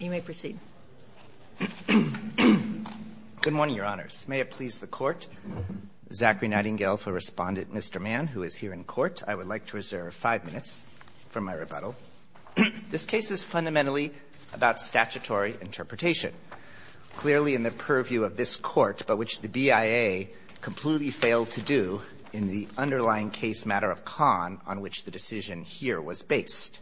Good morning, Your Honors. May it please the Court, Zachary Nightingale for Respondent, Mr. Mann, who is here in court. I would like to reserve five minutes for my rebuttal. This case is fundamentally about statutory interpretation. Clearly, in the purview of this Court, but which the BIA completely failed to do in the underlying case matter of Kahn, on which the decision here was based.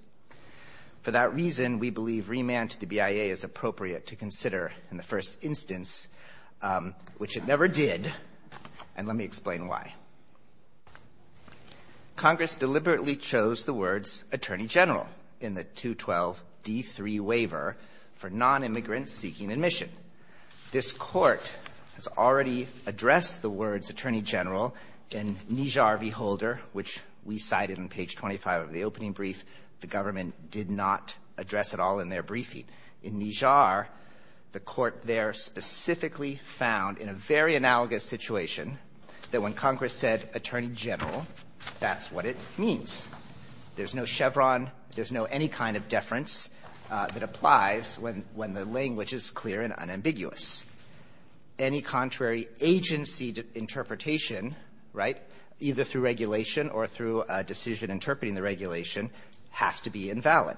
For that reason, we believe remand to the BIA is appropriate to consider in the first instance, which it never did, and let me explain why. Congress deliberately chose the words, Attorney General, in the 212d3 waiver for nonimmigrant seeking admission. This Court has already addressed the words, Attorney General, in Nijar v. Holder, which we cited on page 25 of the opening brief. The government did not address it all in their briefing. In Nijar, the Court there specifically found, in a very analogous situation, that when Congress said, Attorney General, that's what it means. There's no Chevron, there's no any kind of deference that applies when the language is clear and unambiguous. Any contrary agency interpretation, right, either through regulation or through a decision interpreting the regulation has to be invalid.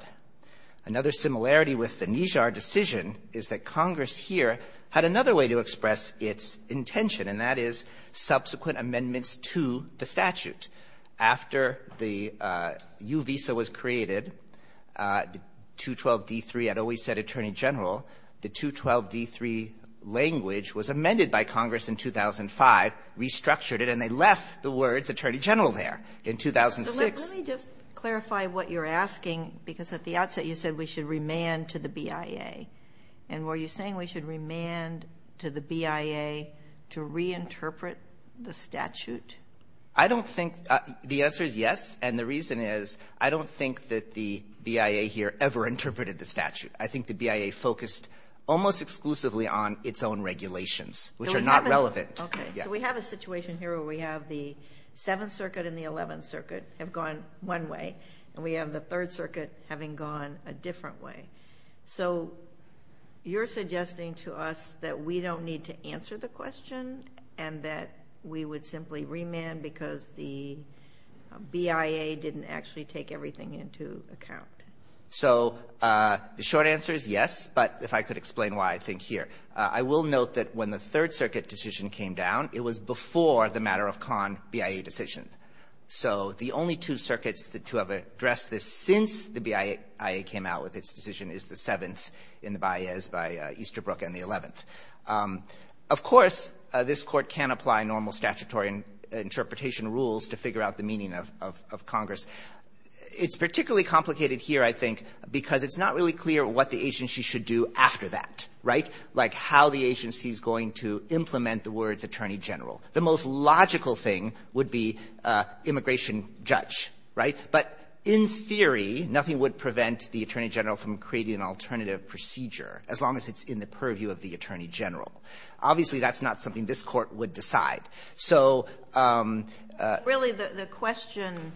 Another similarity with the Nijar decision is that Congress here had another way to express its intention, and that is subsequent amendments to the statute. After the U visa was created, the 212d3, I'd always said Attorney General, the 212d3 language was amended by Congress in 2005, restructured it, and they left the words Attorney General there in 2006. Sotomayor, let me just clarify what you're asking, because at the outset you said we should remand to the BIA. And were you saying we should remand to the BIA to reinterpret the statute? I don't think the answer is yes. And the reason is I don't think that the BIA here ever interpreted the statute. I think the BIA focused almost exclusively on its own regulations, which are not relevant. Okay. So we have a situation here where we have the 7th Circuit and the 11th Circuit have gone one way, and we have the 3rd Circuit having gone a different way. So you're suggesting to us that we don't need to answer the question and that we would simply remand because the BIA didn't actually take everything into account. So the short answer is yes. But if I could explain why, I think here. I will note that when the 3rd Circuit decision came down, it was before the matter-of-con BIA decision. So the only two circuits to have addressed this since the BIA came out with its decision is the 7th in the BIA, is by Easterbrook and the 11th. Of course, this Court can apply normal statutory interpretation rules to figure out the meaning of Congress. It's particularly complicated here, I think, because it's not really clear what the agency should do after that, right, like how the agency is going to implement the words attorney general. The most logical thing would be immigration judge, right? But in theory, nothing would prevent the attorney general from creating an alternative procedure, as long as it's in the purview of the attorney general. Obviously, that's not something this Court would decide. So the question,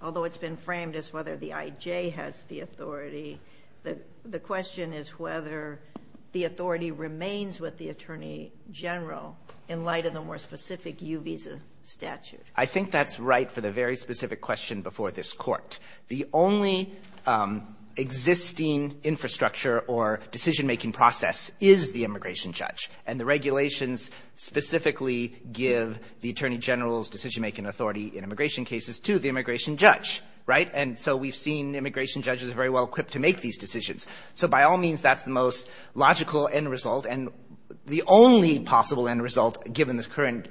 although it's been framed as whether the I.J. has the authority, the question is whether the authority remains with the attorney general in light of the more specific U visa statute. I think that's right for the very specific question before this Court. The only existing infrastructure or decision-making process is the immigration judge. And the regulations specifically give the attorney general's decision-making authority in immigration cases to the immigration judge, right? And so we've seen immigration judges very well equipped to make these decisions. So by all means, that's the most logical end result and the only possible end result given the current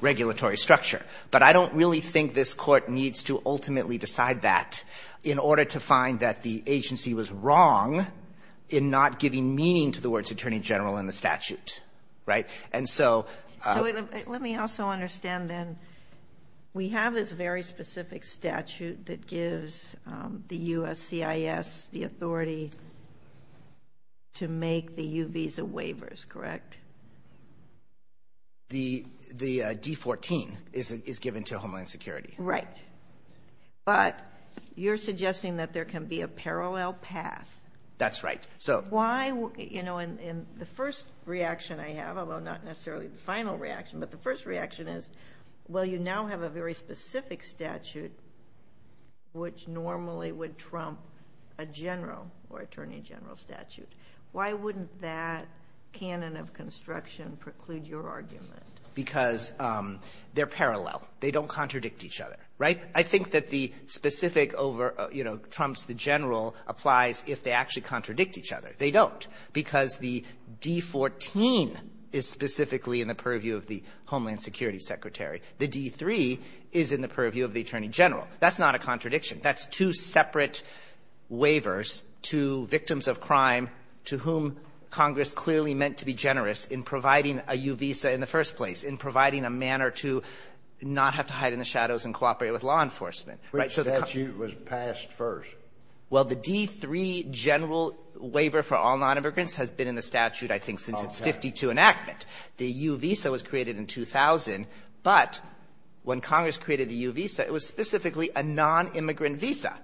regulatory structure. But I don't really think this Court needs to ultimately decide that in order to find that the agency was wrong in not giving meaning to the statute, right? And so... So let me also understand then, we have this very specific statute that gives the U.S. CIS the authority to make the U visa waivers, correct? The D-14 is given to Homeland Security. Right. But you're suggesting that there can be a parallel path. That's right. So... You know, and the first reaction I have, although not necessarily the final reaction, but the first reaction is, well, you now have a very specific statute which normally would trump a general or attorney general statute. Why wouldn't that canon of construction preclude your argument? Because they're parallel. They don't contradict each other, right? I think that the specific over, you know, trumps the general applies if they actually contradict each other. They don't, because the D-14 is specifically in the purview of the Homeland Security Secretary. The D-3 is in the purview of the attorney general. That's not a contradiction. That's two separate waivers to victims of crime to whom Congress clearly meant to be generous in providing a U visa in the first place, in providing a manner to not have to hide in the shadows and cooperate with law enforcement. Which statute was passed first? Well, the D-3 general waiver for all nonimmigrants has been in the statute, I think, since its 52 enactment. The U visa was created in 2000, but when Congress created the U visa, it was specifically a nonimmigrant visa.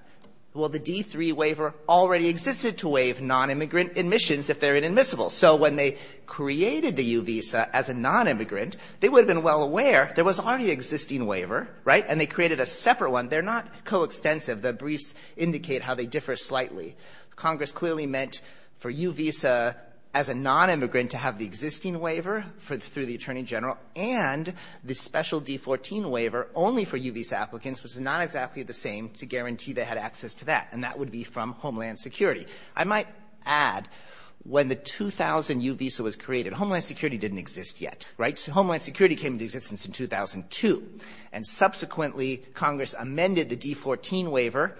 Well, the D-3 waiver already existed to waive nonimmigrant admissions if they're inadmissible. So when they created the U visa as a nonimmigrant, they would have been well aware there was already an existing waiver, right, and they created a separate one. They're not coextensive. The briefs indicate how they differ slightly. Congress clearly meant for U visa as a nonimmigrant to have the existing waiver for the attorney general, and the special D-14 waiver only for U visa applicants was not exactly the same to guarantee they had access to that, and that would be from Homeland Security. I might add, when the 2000 U visa was created, Homeland Security didn't exist yet, right? So Homeland Security came into existence in 2002. And subsequently, Congress amended the D-14 waiver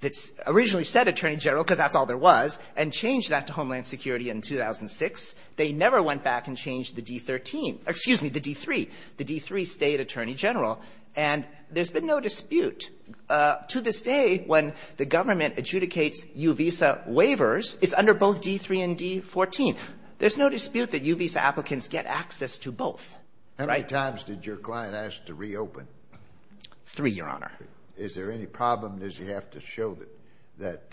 that originally said attorney general, because that's all there was, and changed that to Homeland Security in 2006. They never went back and changed the D-13. Excuse me, the D-3, the D-3 state attorney general. And there's been no dispute. To this day, when the government adjudicates U visa waivers, it's under both D-3 and D-14. There's no dispute that U visa applicants get access to both, right? Scalia. How many times did your client ask to reopen? Three, Your Honor. Is there any problem? Does he have to show that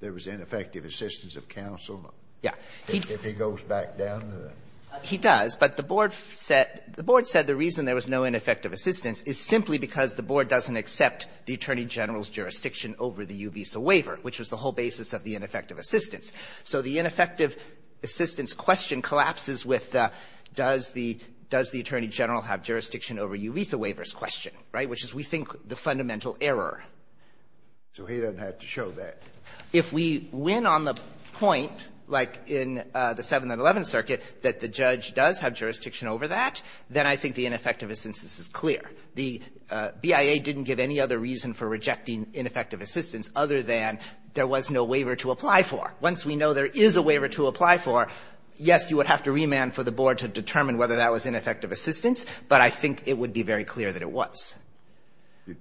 there was ineffective assistance of counsel? Yeah. If he goes back down to the --? He does. But the board said the reason there was no ineffective assistance is simply because the board doesn't accept the attorney general's jurisdiction over the U visa waiver, which was the whole basis of the ineffective assistance. So the ineffective assistance question collapses with the does the attorney general have jurisdiction over U visa waivers question, right, which is, we think, the fundamental error. So he doesn't have to show that. If we win on the point, like in the 7th and 11th Circuit, that the judge does have jurisdiction over that, then I think the ineffective assistance is clear. The BIA didn't give any other reason for rejecting ineffective assistance other than there was no waiver to apply for. Once we know there is a waiver to apply for, yes, you would have to remand for the board to determine whether that was ineffective assistance, but I think it would be very clear that it was.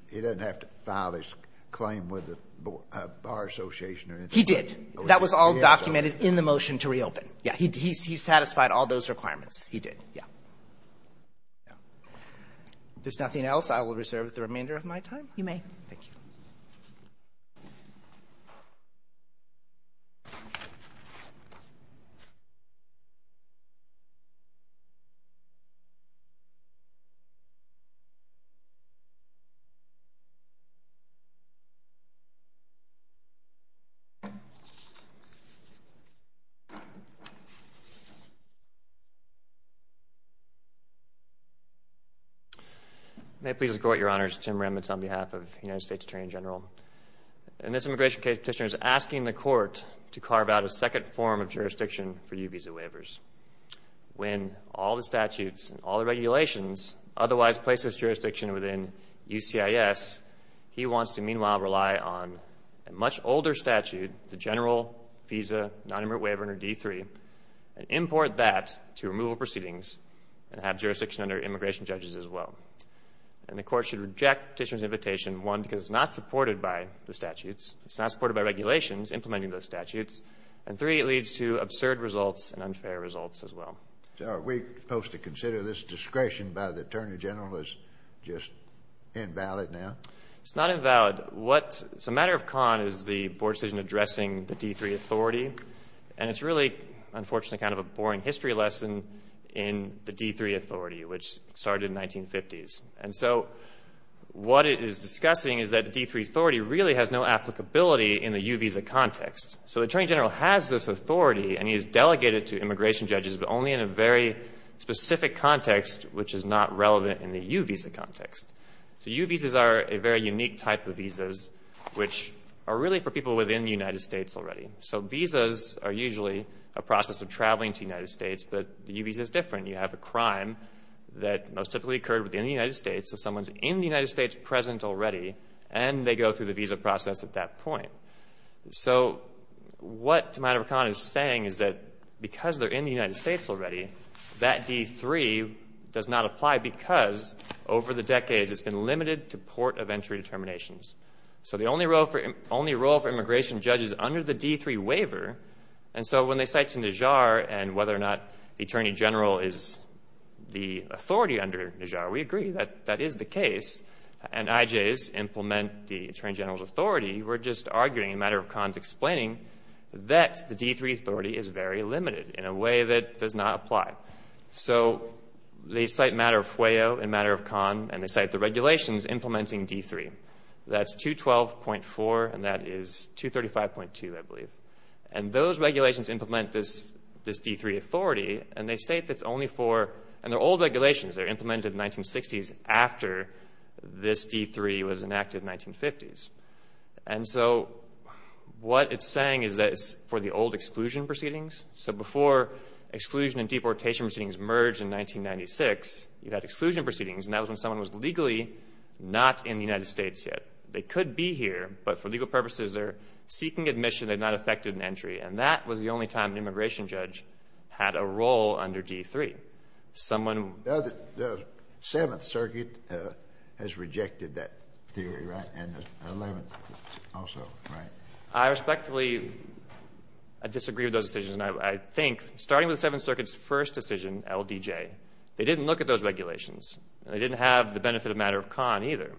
He doesn't have to file his claim with the Bar Association or anything? He did. That was all documented in the motion to reopen. Yeah. He satisfied all those requirements. He did. Yeah. If there's nothing else, I will reserve the remainder of my time. You may. Thank you. Thank you. May it please the Court, Your Honors, Tim Remitz on behalf of the United States Attorney General. In this immigration case, the petitioner is asking the Court to carve out a second form of jurisdiction for U visa waivers. When all the statutes and all the regulations otherwise place this jurisdiction within UCIS, he wants to, meanwhile, rely on a much older statute, the general visa nonimmigrant waiver under D3, and import that to removal proceedings and have jurisdiction under immigration judges as well. And the Court should reject petitioner's invitation, one, because it's not supported by the statutes, it's not supported by regulations implementing those statutes, and three, it leads to absurd results and unfair results as well. So are we supposed to consider this discretion by the Attorney General as just invalid now? It's not invalid. What's a matter of con is the Board's decision addressing the D3 authority, and it's really, unfortunately, kind of a boring history lesson in the D3 authority, which started in 1950s. And so what it is discussing is that the D3 authority really has no applicability in the U visa context. So the Attorney General has this authority, and he is delegated to immigration judges, but only in a very specific context, which is not relevant in the U visa context. So U visas are a very unique type of visas, which are really for people within the United States already. So visas are usually a process of traveling to the United States, but the U visa is different. You have a crime that most typically occurred within the United States, so someone's in the United States present already, and they go through the visa process at that point. So what a matter of con is saying is that because they're in the United States already, that D3 does not apply because over the decades, it's been limited to port of entry determinations. So the only role for immigration judges under the D3 waiver, and so when they say the Attorney General is the authority under Nijar, we agree that that is the case, and IJs implement the Attorney General's authority. We're just arguing a matter of cons explaining that the D3 authority is very limited in a way that does not apply. So they cite matter of fwayo and matter of con, and they cite the regulations implementing D3. That's 212.4, and that is 235.2, I believe. And those regulations implement this D3 authority, and they state that it's only for, and they're old regulations. They were implemented in the 1960s after this D3 was enacted in the 1950s. And so what it's saying is that it's for the old exclusion proceedings. So before exclusion and deportation proceedings merged in 1996, you had exclusion proceedings, and that was when someone was legally not in the United States yet. They could be here, but for legal purposes, they're seeking admission. They've not effected an entry. And that was the only time an immigration judge had a role under D3. Someone who — The Seventh Circuit has rejected that theory, right? And the Eleventh also, right? I respectfully disagree with those decisions, and I think, starting with the Seventh Circuit's first decision, LDJ, they didn't look at those regulations. They didn't have the benefit of matter of con, either.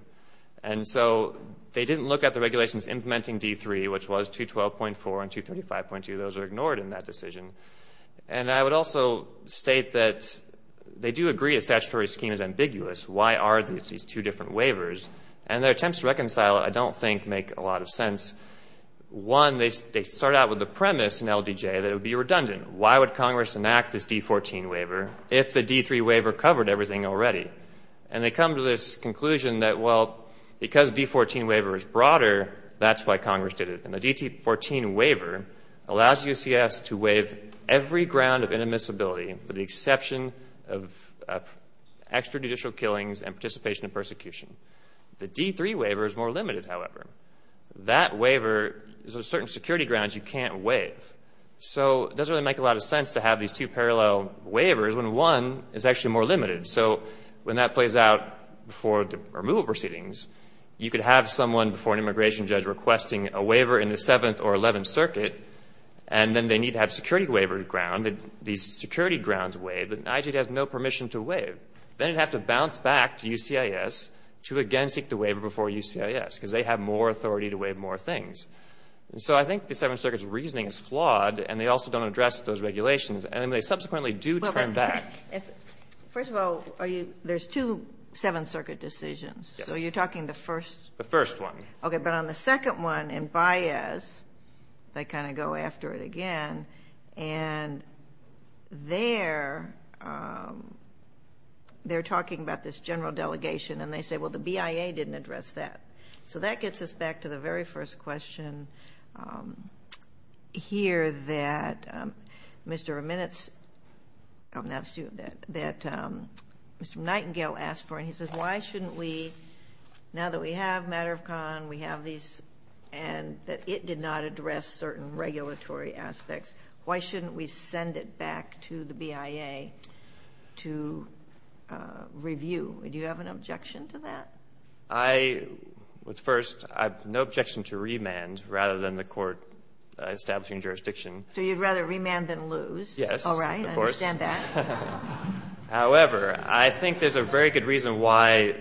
And so they didn't look at the regulations implementing D3, which was 212.4 and 235.2. Those are ignored in that decision. And I would also state that they do agree a statutory scheme is ambiguous. Why are these two different waivers? And their attempts to reconcile it, I don't think, make a lot of sense. One, they start out with the premise in LDJ that it would be redundant. Why would Congress enact this D14 waiver if the D3 waiver covered everything already? And they come to this conclusion that, well, because D14 waiver is broader, that's why Congress did it. And the D14 waiver allows UCS to waive every ground of inadmissibility with the exception of extrajudicial killings and participation in persecution. The D3 waiver is more limited, however. That waiver — there's a certain security grounds you can't waive. So it doesn't really make a lot of sense to have these two parallel waivers when one is actually more limited. So when that plays out before the removal proceedings, you could have someone before an immigration judge requesting a waiver in the Seventh or Eleventh Circuit, and then they need to have security waiver ground. These security grounds waive, and IG has no permission to waive. Then you'd have to bounce back to UCIS to again seek the waiver before UCIS, because they have more authority to waive more things. So I think the Seventh Circuit's reasoning is flawed, and they also don't address those regulations. And they subsequently do turn back. First of all, are you — there's two Seventh Circuit decisions. Yes. So you're talking the first — The first one. Okay. But on the second one in Baez, they kind of go after it again. And there, they're talking about this general delegation, and they say, well, the BIA didn't address that. So that gets us back to the very first question here that Mr. Minutes — that Mr. Nightingale asked for. And he says, why shouldn't we, now that we have Matter of Con, we have these and that it did not address certain regulatory aspects, why shouldn't we send it back to the BIA to review? Do you have an objection to that? I would first — I have no objection to remand rather than the court establishing jurisdiction. So you'd rather remand than lose? Yes, of course. All right. I understand that. However, I think there's a very good reason why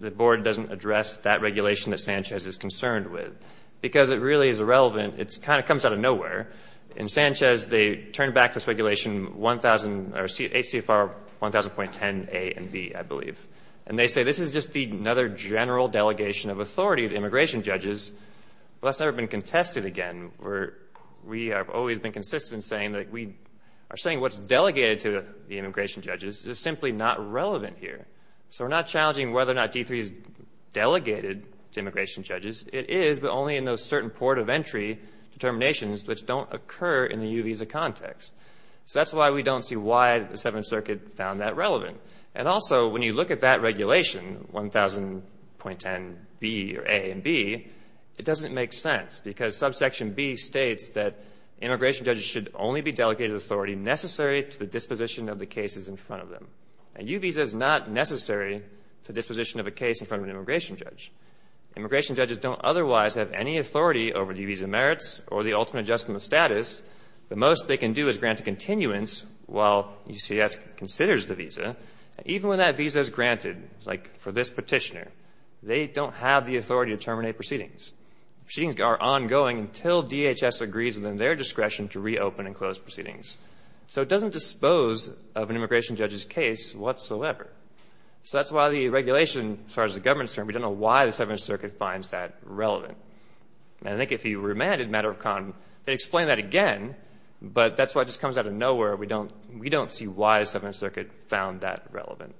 the Board doesn't address that regulation that Sanchez is concerned with, because it really is irrelevant. It kind of comes out of nowhere. In Sanchez, they turn back this regulation 1000 — or HCFR 1000.10a and b, I believe. And they say, this is just another general delegation of authority to immigration judges. Well, that's never been contested again. We have always been consistent in saying that we are saying what's delegated to the immigration judges is simply not relevant here. So we're not challenging whether or not D3 is delegated to immigration judges. It is, but only in those certain port of entry determinations which don't occur in the U visa context. So that's why we don't see why the Seventh Circuit found that relevant. And also, when you look at that regulation, 1000.10b or a and b, it doesn't make sense because subsection b states that immigration judges should only be delegated authority necessary to the disposition of the cases in front of them. A U visa is not necessary to disposition of a case in front of an immigration judge. Immigration judges don't otherwise have any authority over U visa merits or the ultimate adjustment of status. The most they can do is grant a continuance while UCS considers the visa. Even when that visa is granted, like for this petitioner, they don't have the authority to terminate proceedings. Proceedings are ongoing until DHS agrees within their discretion to reopen and close proceedings. So it doesn't dispose of an immigration judge's case whatsoever. So that's why the regulation, as far as the government is concerned, we don't know why the Seventh Circuit finds that relevant. And I think if you remanded matter of con, they'd explain that again, but that's why it just comes out of nowhere. We don't see why the Seventh Circuit found that relevant.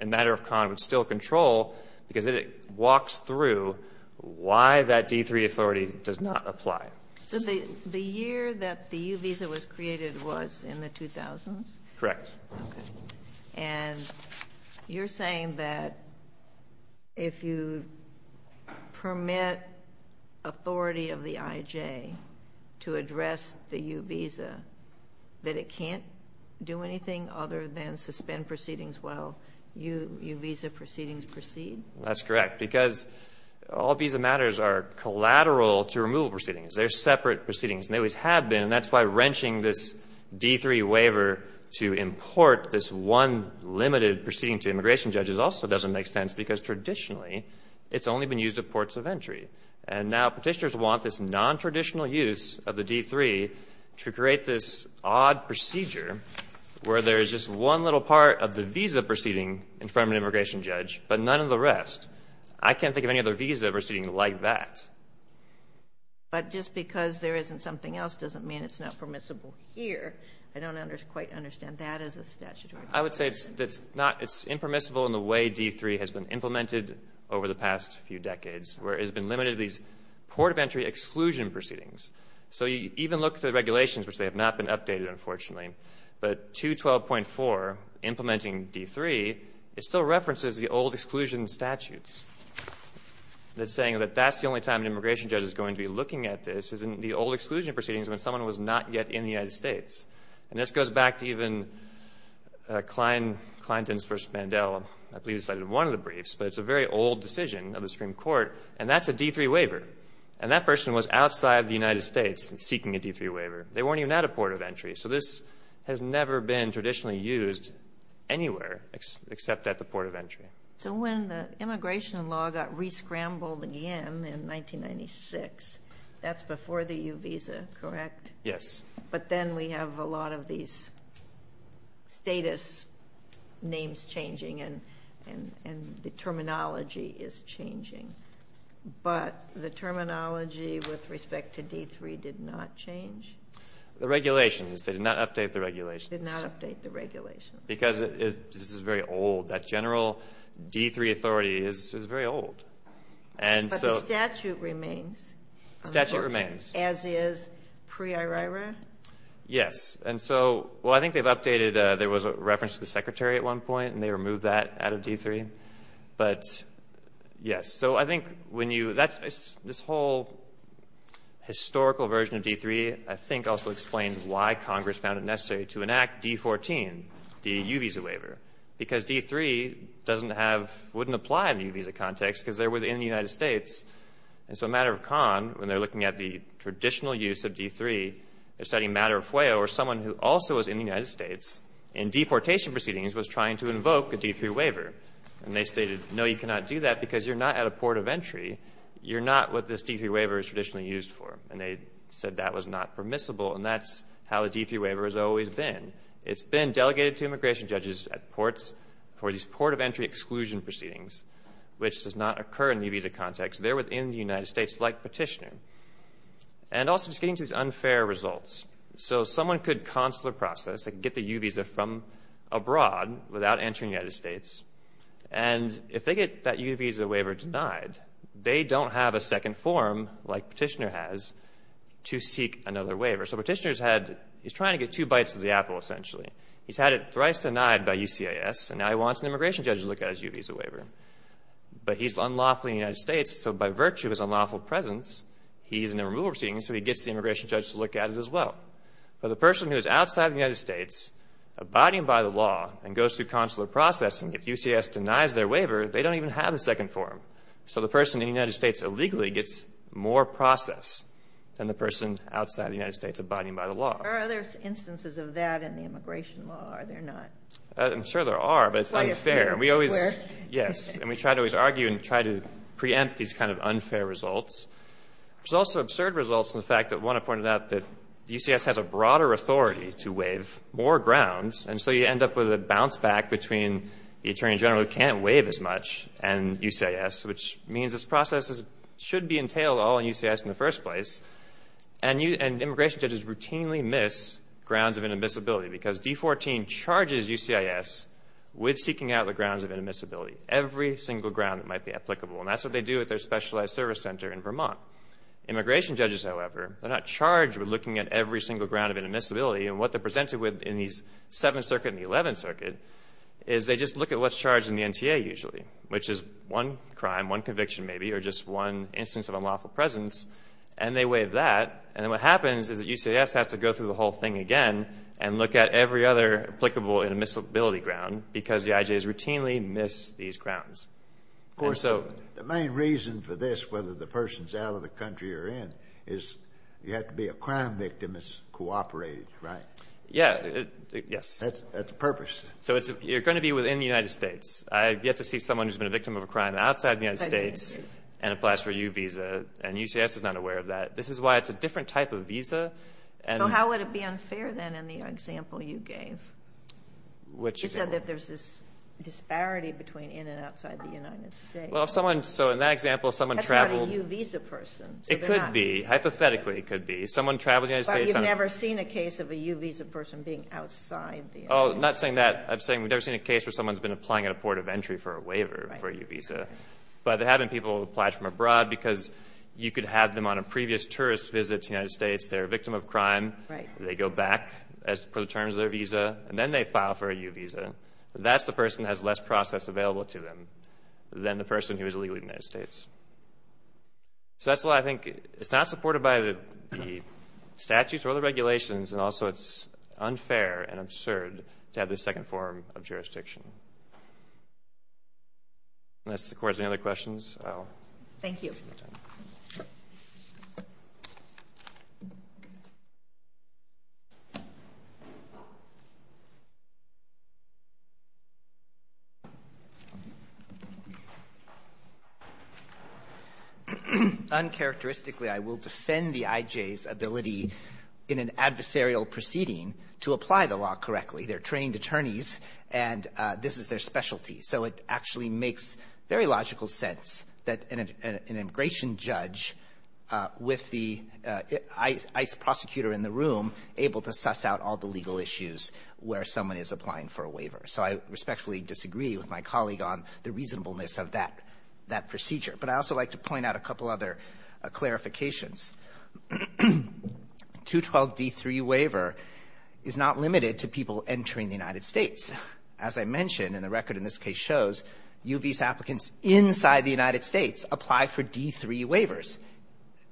And matter of con would still control because it walks through why that D3 authority does not apply. So the year that the U visa was created was in the 2000s? Correct. And you're saying that if you permit authority of the IJ to address the U visa, that it would allow U visa proceedings to proceed? That's correct. Because all visa matters are collateral to removal proceedings. They're separate proceedings. And they always have been. And that's why wrenching this D3 waiver to import this one limited proceeding to immigration judges also doesn't make sense because traditionally it's only been used at ports of entry. And now petitioners want this nontraditional use of the D3 to create this odd procedure where there is just one little part of the visa proceeding in front of an immigration judge, but none of the rest. I can't think of any other visa proceeding like that. But just because there isn't something else doesn't mean it's not permissible here. I don't quite understand that as a statutory requirement. I would say it's impermissible in the way D3 has been implemented over the past few decades, where it has been limited to these port of entry exclusion proceedings. So you even look at the regulations, which they have not been updated, unfortunately. But 212.4, implementing D3, it still references the old exclusion statutes that's saying that that's the only time an immigration judge is going to be looking at this is in the old exclusion proceedings when someone was not yet in the United States. And this goes back to even Kleindienst versus Mandel. I believe it's cited in one of the briefs. But it's a very old decision of the Supreme Court. And that's a D3 waiver. And that person was outside the United States seeking a D3 waiver. They weren't even at a port of entry. So this has never been traditionally used anywhere except at the port of entry. So when the immigration law got re-scrambled again in 1996, that's before the U visa, correct? Yes. But then we have a lot of these status names changing and the terminology is changing. But the terminology with respect to D3 did not change? The regulations. They did not update the regulations. Did not update the regulations. Because this is very old. That general D3 authority is very old. But the statute remains. Statute remains. As is pre-IRIRA? Yes. And so, well, I think they've updated. There was a reference to the Secretary at one point. And they removed that out of D3. But yes. So I think when you — this whole historical version of D3, I think, also explains why Congress found it necessary to enact D14, the U visa waiver. Because D3 doesn't have — wouldn't apply in the U visa context because they were in the United States. And so a matter of con, when they're looking at the traditional use of D3, they're citing a matter of FOIA where someone who also was in the United States in deportation proceedings was trying to invoke a D3 waiver. And they stated, no, you cannot do that because you're not at a port of entry. You're not what this D3 waiver is traditionally used for. And they said that was not permissible. And that's how the D3 waiver has always been. It's been delegated to immigration judges at ports for these port of entry exclusion proceedings, which does not occur in the U visa context. They're within the United States like petitioner. And also, just getting to these unfair results. So someone could consular process and get the U visa from abroad without entering the United States, and if they get that U visa waiver denied, they don't have a second form like petitioner has to seek another waiver. So petitioner's had — he's trying to get two bites of the apple, essentially. He's had it thrice denied by UCIS, and now he wants an immigration judge to look at his U visa waiver. But he's unlawfully in the United States, so by virtue of his unlawful presence, he's in a removal proceeding, so he gets the immigration judge to look at it as well. But the person who is outside the United States, abiding by the law, and goes through consular processing, if UCS denies their waiver, they don't even have a second form. So the person in the United States illegally gets more process than the person outside the United States abiding by the law. There are other instances of that in the immigration law, are there not? I'm sure there are, but it's unfair. It's quite unfair. We always — yes. And we try to always argue and try to preempt these kind of unfair results. There's also absurd results in the fact that, one, I pointed out that UCS has a broader authority to waive more grounds, and so you end up with a bounce back between the attorney general who can't waive as much and UCIS, which means this process should be entailed all in UCS in the first place, and immigration judges routinely miss grounds of inadmissibility because D14 charges UCIS with seeking out the grounds of inadmissibility, every single ground that might be applicable. And that's what they do at their specialized service center in Vermont. Immigration judges, however, they're not charged with looking at every single ground of inadmissibility. And what they're presented with in these Seventh Circuit and the Eleventh Circuit is they just look at what's charged in the NTA usually, which is one crime, one conviction maybe, or just one instance of unlawful presence, and they waive that. And then what happens is that UCS has to go through the whole thing again and look at every other applicable inadmissibility ground because the IJs routinely miss these grounds. Of course, the main reason for this, whether the person's out of the country or in, is you have to be a crime victim that's cooperating, right? Yeah, yes. That's the purpose. So you're going to be within the United States. I've yet to see someone who's been a victim of a crime outside the United States and applies for a U visa, and UCS is not aware of that. This is why it's a different type of visa. So how would it be unfair, then, in the example you gave? Which is what? You said that there's this disparity between in and outside the United States. Well, if someone, so in that example, someone traveled... That's not a U visa person. It could be. Hypothetically, it could be. Someone traveled to the United States... But you've never seen a case of a U visa person being outside the United States. Oh, I'm not saying that. I'm saying we've never seen a case where someone's been applying at a port of entry for a waiver for a U visa. But there have been people who applied from abroad because you could have them on a previous tourist visit to the United States. They're a victim of crime. Right. They go back for the terms of their visa, and then they file for a U visa. That's the person that has less process available to them than the person who is illegally in the United States. So that's why I think it's not supported by the statutes or the regulations. And also, it's unfair and absurd to have this second form of jurisdiction. Unless the Court has any other questions, I'll... Thank you. Uncharacteristically, I will defend the IJ's ability in an adversarial proceeding to apply the law correctly. They're trained attorneys, and this is their specialty. So it actually makes very logical sense that an immigration judge with the ICE prosecutor in the room able to suss out all the legal issues where someone is applying for a waiver. So I respectfully disagree with my colleague on the reasonableness of that procedure. But I'd also like to point out a couple other clarifications. 212D3 waiver is not limited to people entering the United States. As I mentioned, and the record in this case shows, U visa applicants inside the United States apply for D3 waivers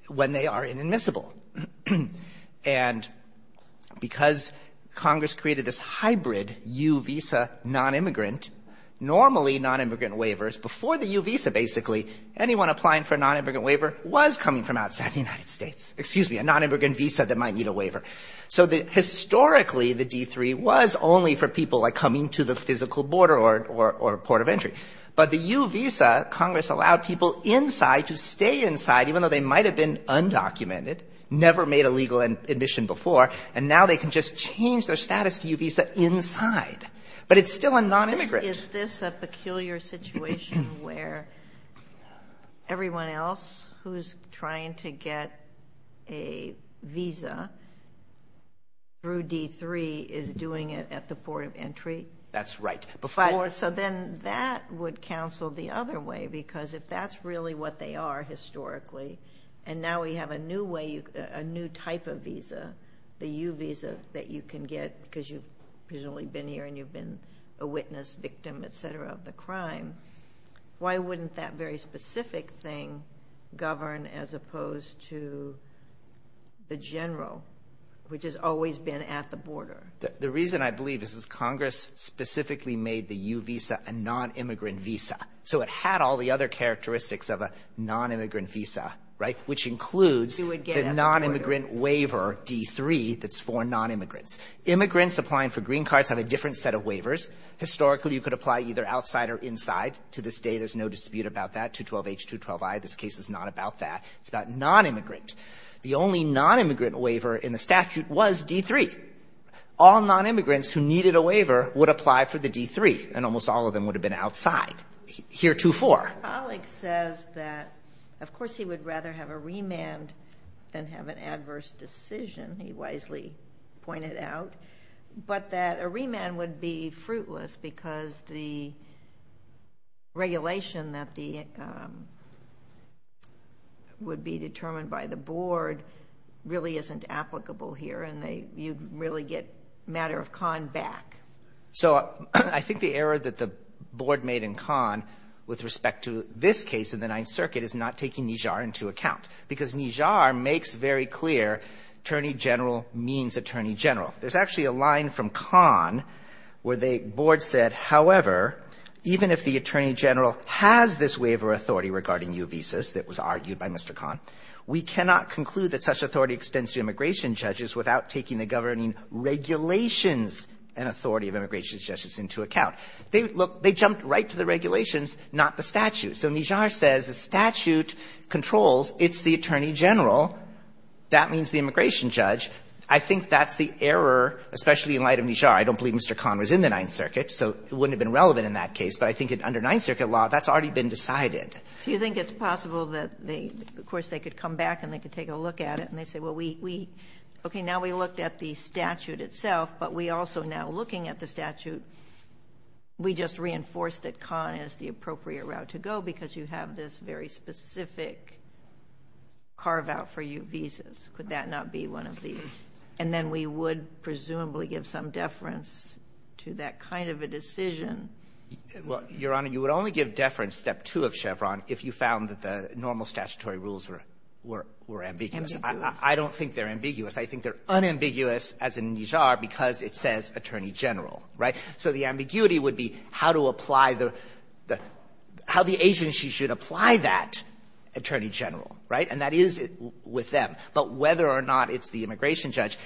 when they are inadmissible. And because Congress created this hybrid U visa non-immigrant, normally non-immigrant waivers, before the U visa basically, anyone applying for a non-immigrant waiver was coming from outside the United States. Excuse me, a non-immigrant visa that might need a waiver. So historically, the D3 was only for people, like, coming to the physical border or port of entry. But the U visa, Congress allowed people inside to stay inside, even though they might have been undocumented, never made a legal admission before, and now they can just change their status to U visa inside. But it's still a non-immigrant. Is this a peculiar situation where everyone else who's trying to get a visa through D3 is doing it at the port of entry? That's right. So then that would counsel the other way, because if that's really what they are historically, and now we have a new way, a new type of visa, the U visa that you can get because you've presumably been here and you've been a witness, victim, et cetera, of the crime, why wouldn't that very specific thing govern as opposed to the general, which has always been at the border? The reason, I believe, is Congress specifically made the U visa a non-immigrant visa. So it had all the other characteristics of a non-immigrant visa, right, which includes the non-immigrant waiver, D3, that's for non-immigrants. Immigrants applying for green cards have a different set of waivers. Historically, you could apply either outside or inside. To this day, there's no dispute about that. 212H, 212I, this case is not about that. It's about non-immigrant. The only non-immigrant waiver in the statute was D3. All non-immigrants who needed a waiver would apply for the D3, and almost all of them would have been outside. Here, 2-4. My colleague says that, of course, he would rather have a remand than have an adverse decision. He wisely pointed out. But that a remand would be fruitless because the regulation that would be determined by the board really isn't applicable here, and you'd really get matter of con back. So I think the error that the board made in con with respect to this case in the Ninth Circuit is not taking Nijjar into account. Because Nijjar makes very clear attorney general means attorney general. There's actually a line from con where the board said, however, even if the attorney general has this waiver authority regarding U visas that was argued by Mr. Conn, we cannot conclude that such authority extends to immigration judges without taking the governing regulations and authority of immigration judges into account. They jumped right to the regulations, not the statute. So Nijjar says the statute controls, it's the attorney general, that means the immigration judge. I think that's the error, especially in light of Nijjar. I don't believe Mr. Conn was in the Ninth Circuit, so it wouldn't have been relevant in that case. But I think under Ninth Circuit law, that's already been decided. You think it's possible that they, of course, they could come back and they could take a look at it, and they say, well, we, we, okay, now we looked at the statute itself, but we also now, looking at the statute, we just reinforced that con is the because you have this very specific carve-out for U visas. Could that not be one of these? And then we would presumably give some deference to that kind of a decision. Well, Your Honor, you would only give deference, step two of Chevron, if you found that the normal statutory rules were, were, were ambiguous. Ambiguous. I don't think they're ambiguous. I think they're unambiguous, as in Nijjar, because it says attorney general, right? So the ambiguity would be how to apply the, the, how the agency should apply that attorney general, right? And that is with them. But whether or not it's the immigration judge,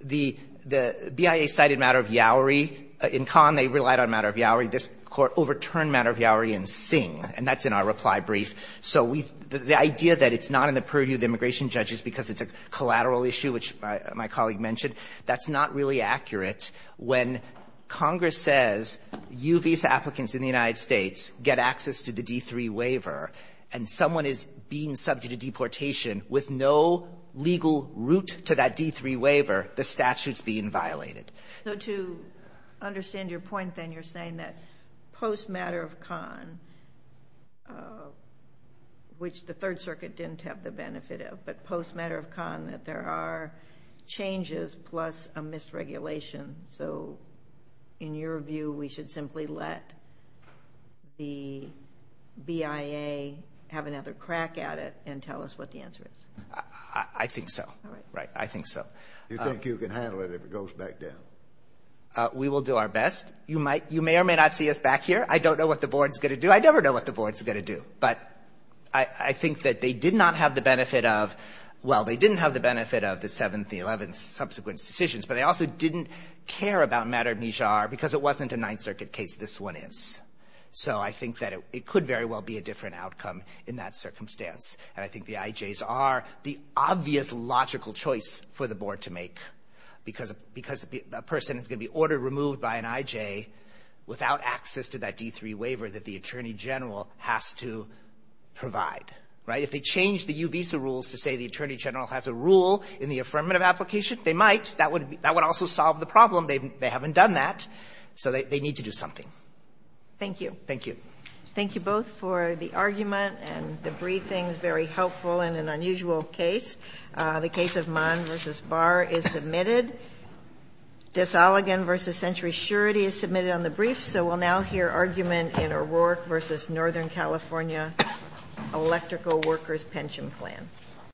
the, the BIA cited matter of Yowery in Conn. They relied on matter of Yowery. This Court overturned matter of Yowery in Singh, and that's in our reply brief. So we, the idea that it's not in the purview of the immigration judge is because it's a collateral issue, which my colleague mentioned, that's not really accurate. When Congress says, you visa applicants in the United States get access to the D-3 waiver, and someone is being subject to deportation with no legal route to that D-3 waiver, the statute's being violated. So to understand your point, then, you're saying that post matter of Conn, which the Third Circuit didn't have the benefit of, but post matter of Conn that there are changes plus a mis-regulation. So in your view, we should simply let the BIA have another crack at it and tell us what the answer is? I think so. All right. Right. I think so. You think you can handle it if it goes back down? We will do our best. You might, you may or may not see us back here. I don't know what the board's going to do. I never know what the board's going to do. But I, I think that they did not have the benefit of, well, they didn't have the benefit of the 7th, the 11th, subsequent decisions, but they also didn't care about matter of Nijjar because it wasn't a Ninth Circuit case. This one is. So I think that it, it could very well be a different outcome in that circumstance. And I think the IJs are the obvious logical choice for the board to make because, because a person is going to be ordered removed by an IJ without access to that D-3 waiver that the attorney general has to provide. Right? If they change the U-Visa rules to say the attorney general has a rule in the affirmative application, they might. That would, that would also solve the problem. They haven't done that. So they, they need to do something. Thank you. Thank you. Thank you both for the argument and the briefings, very helpful in an unusual case. The case of Mann v. Barr is submitted. Dissaligan v. Century Surety is submitted on the brief, so we'll now hear argument in O'Rourke v. Northern California Electrical Workers' Pension Plan.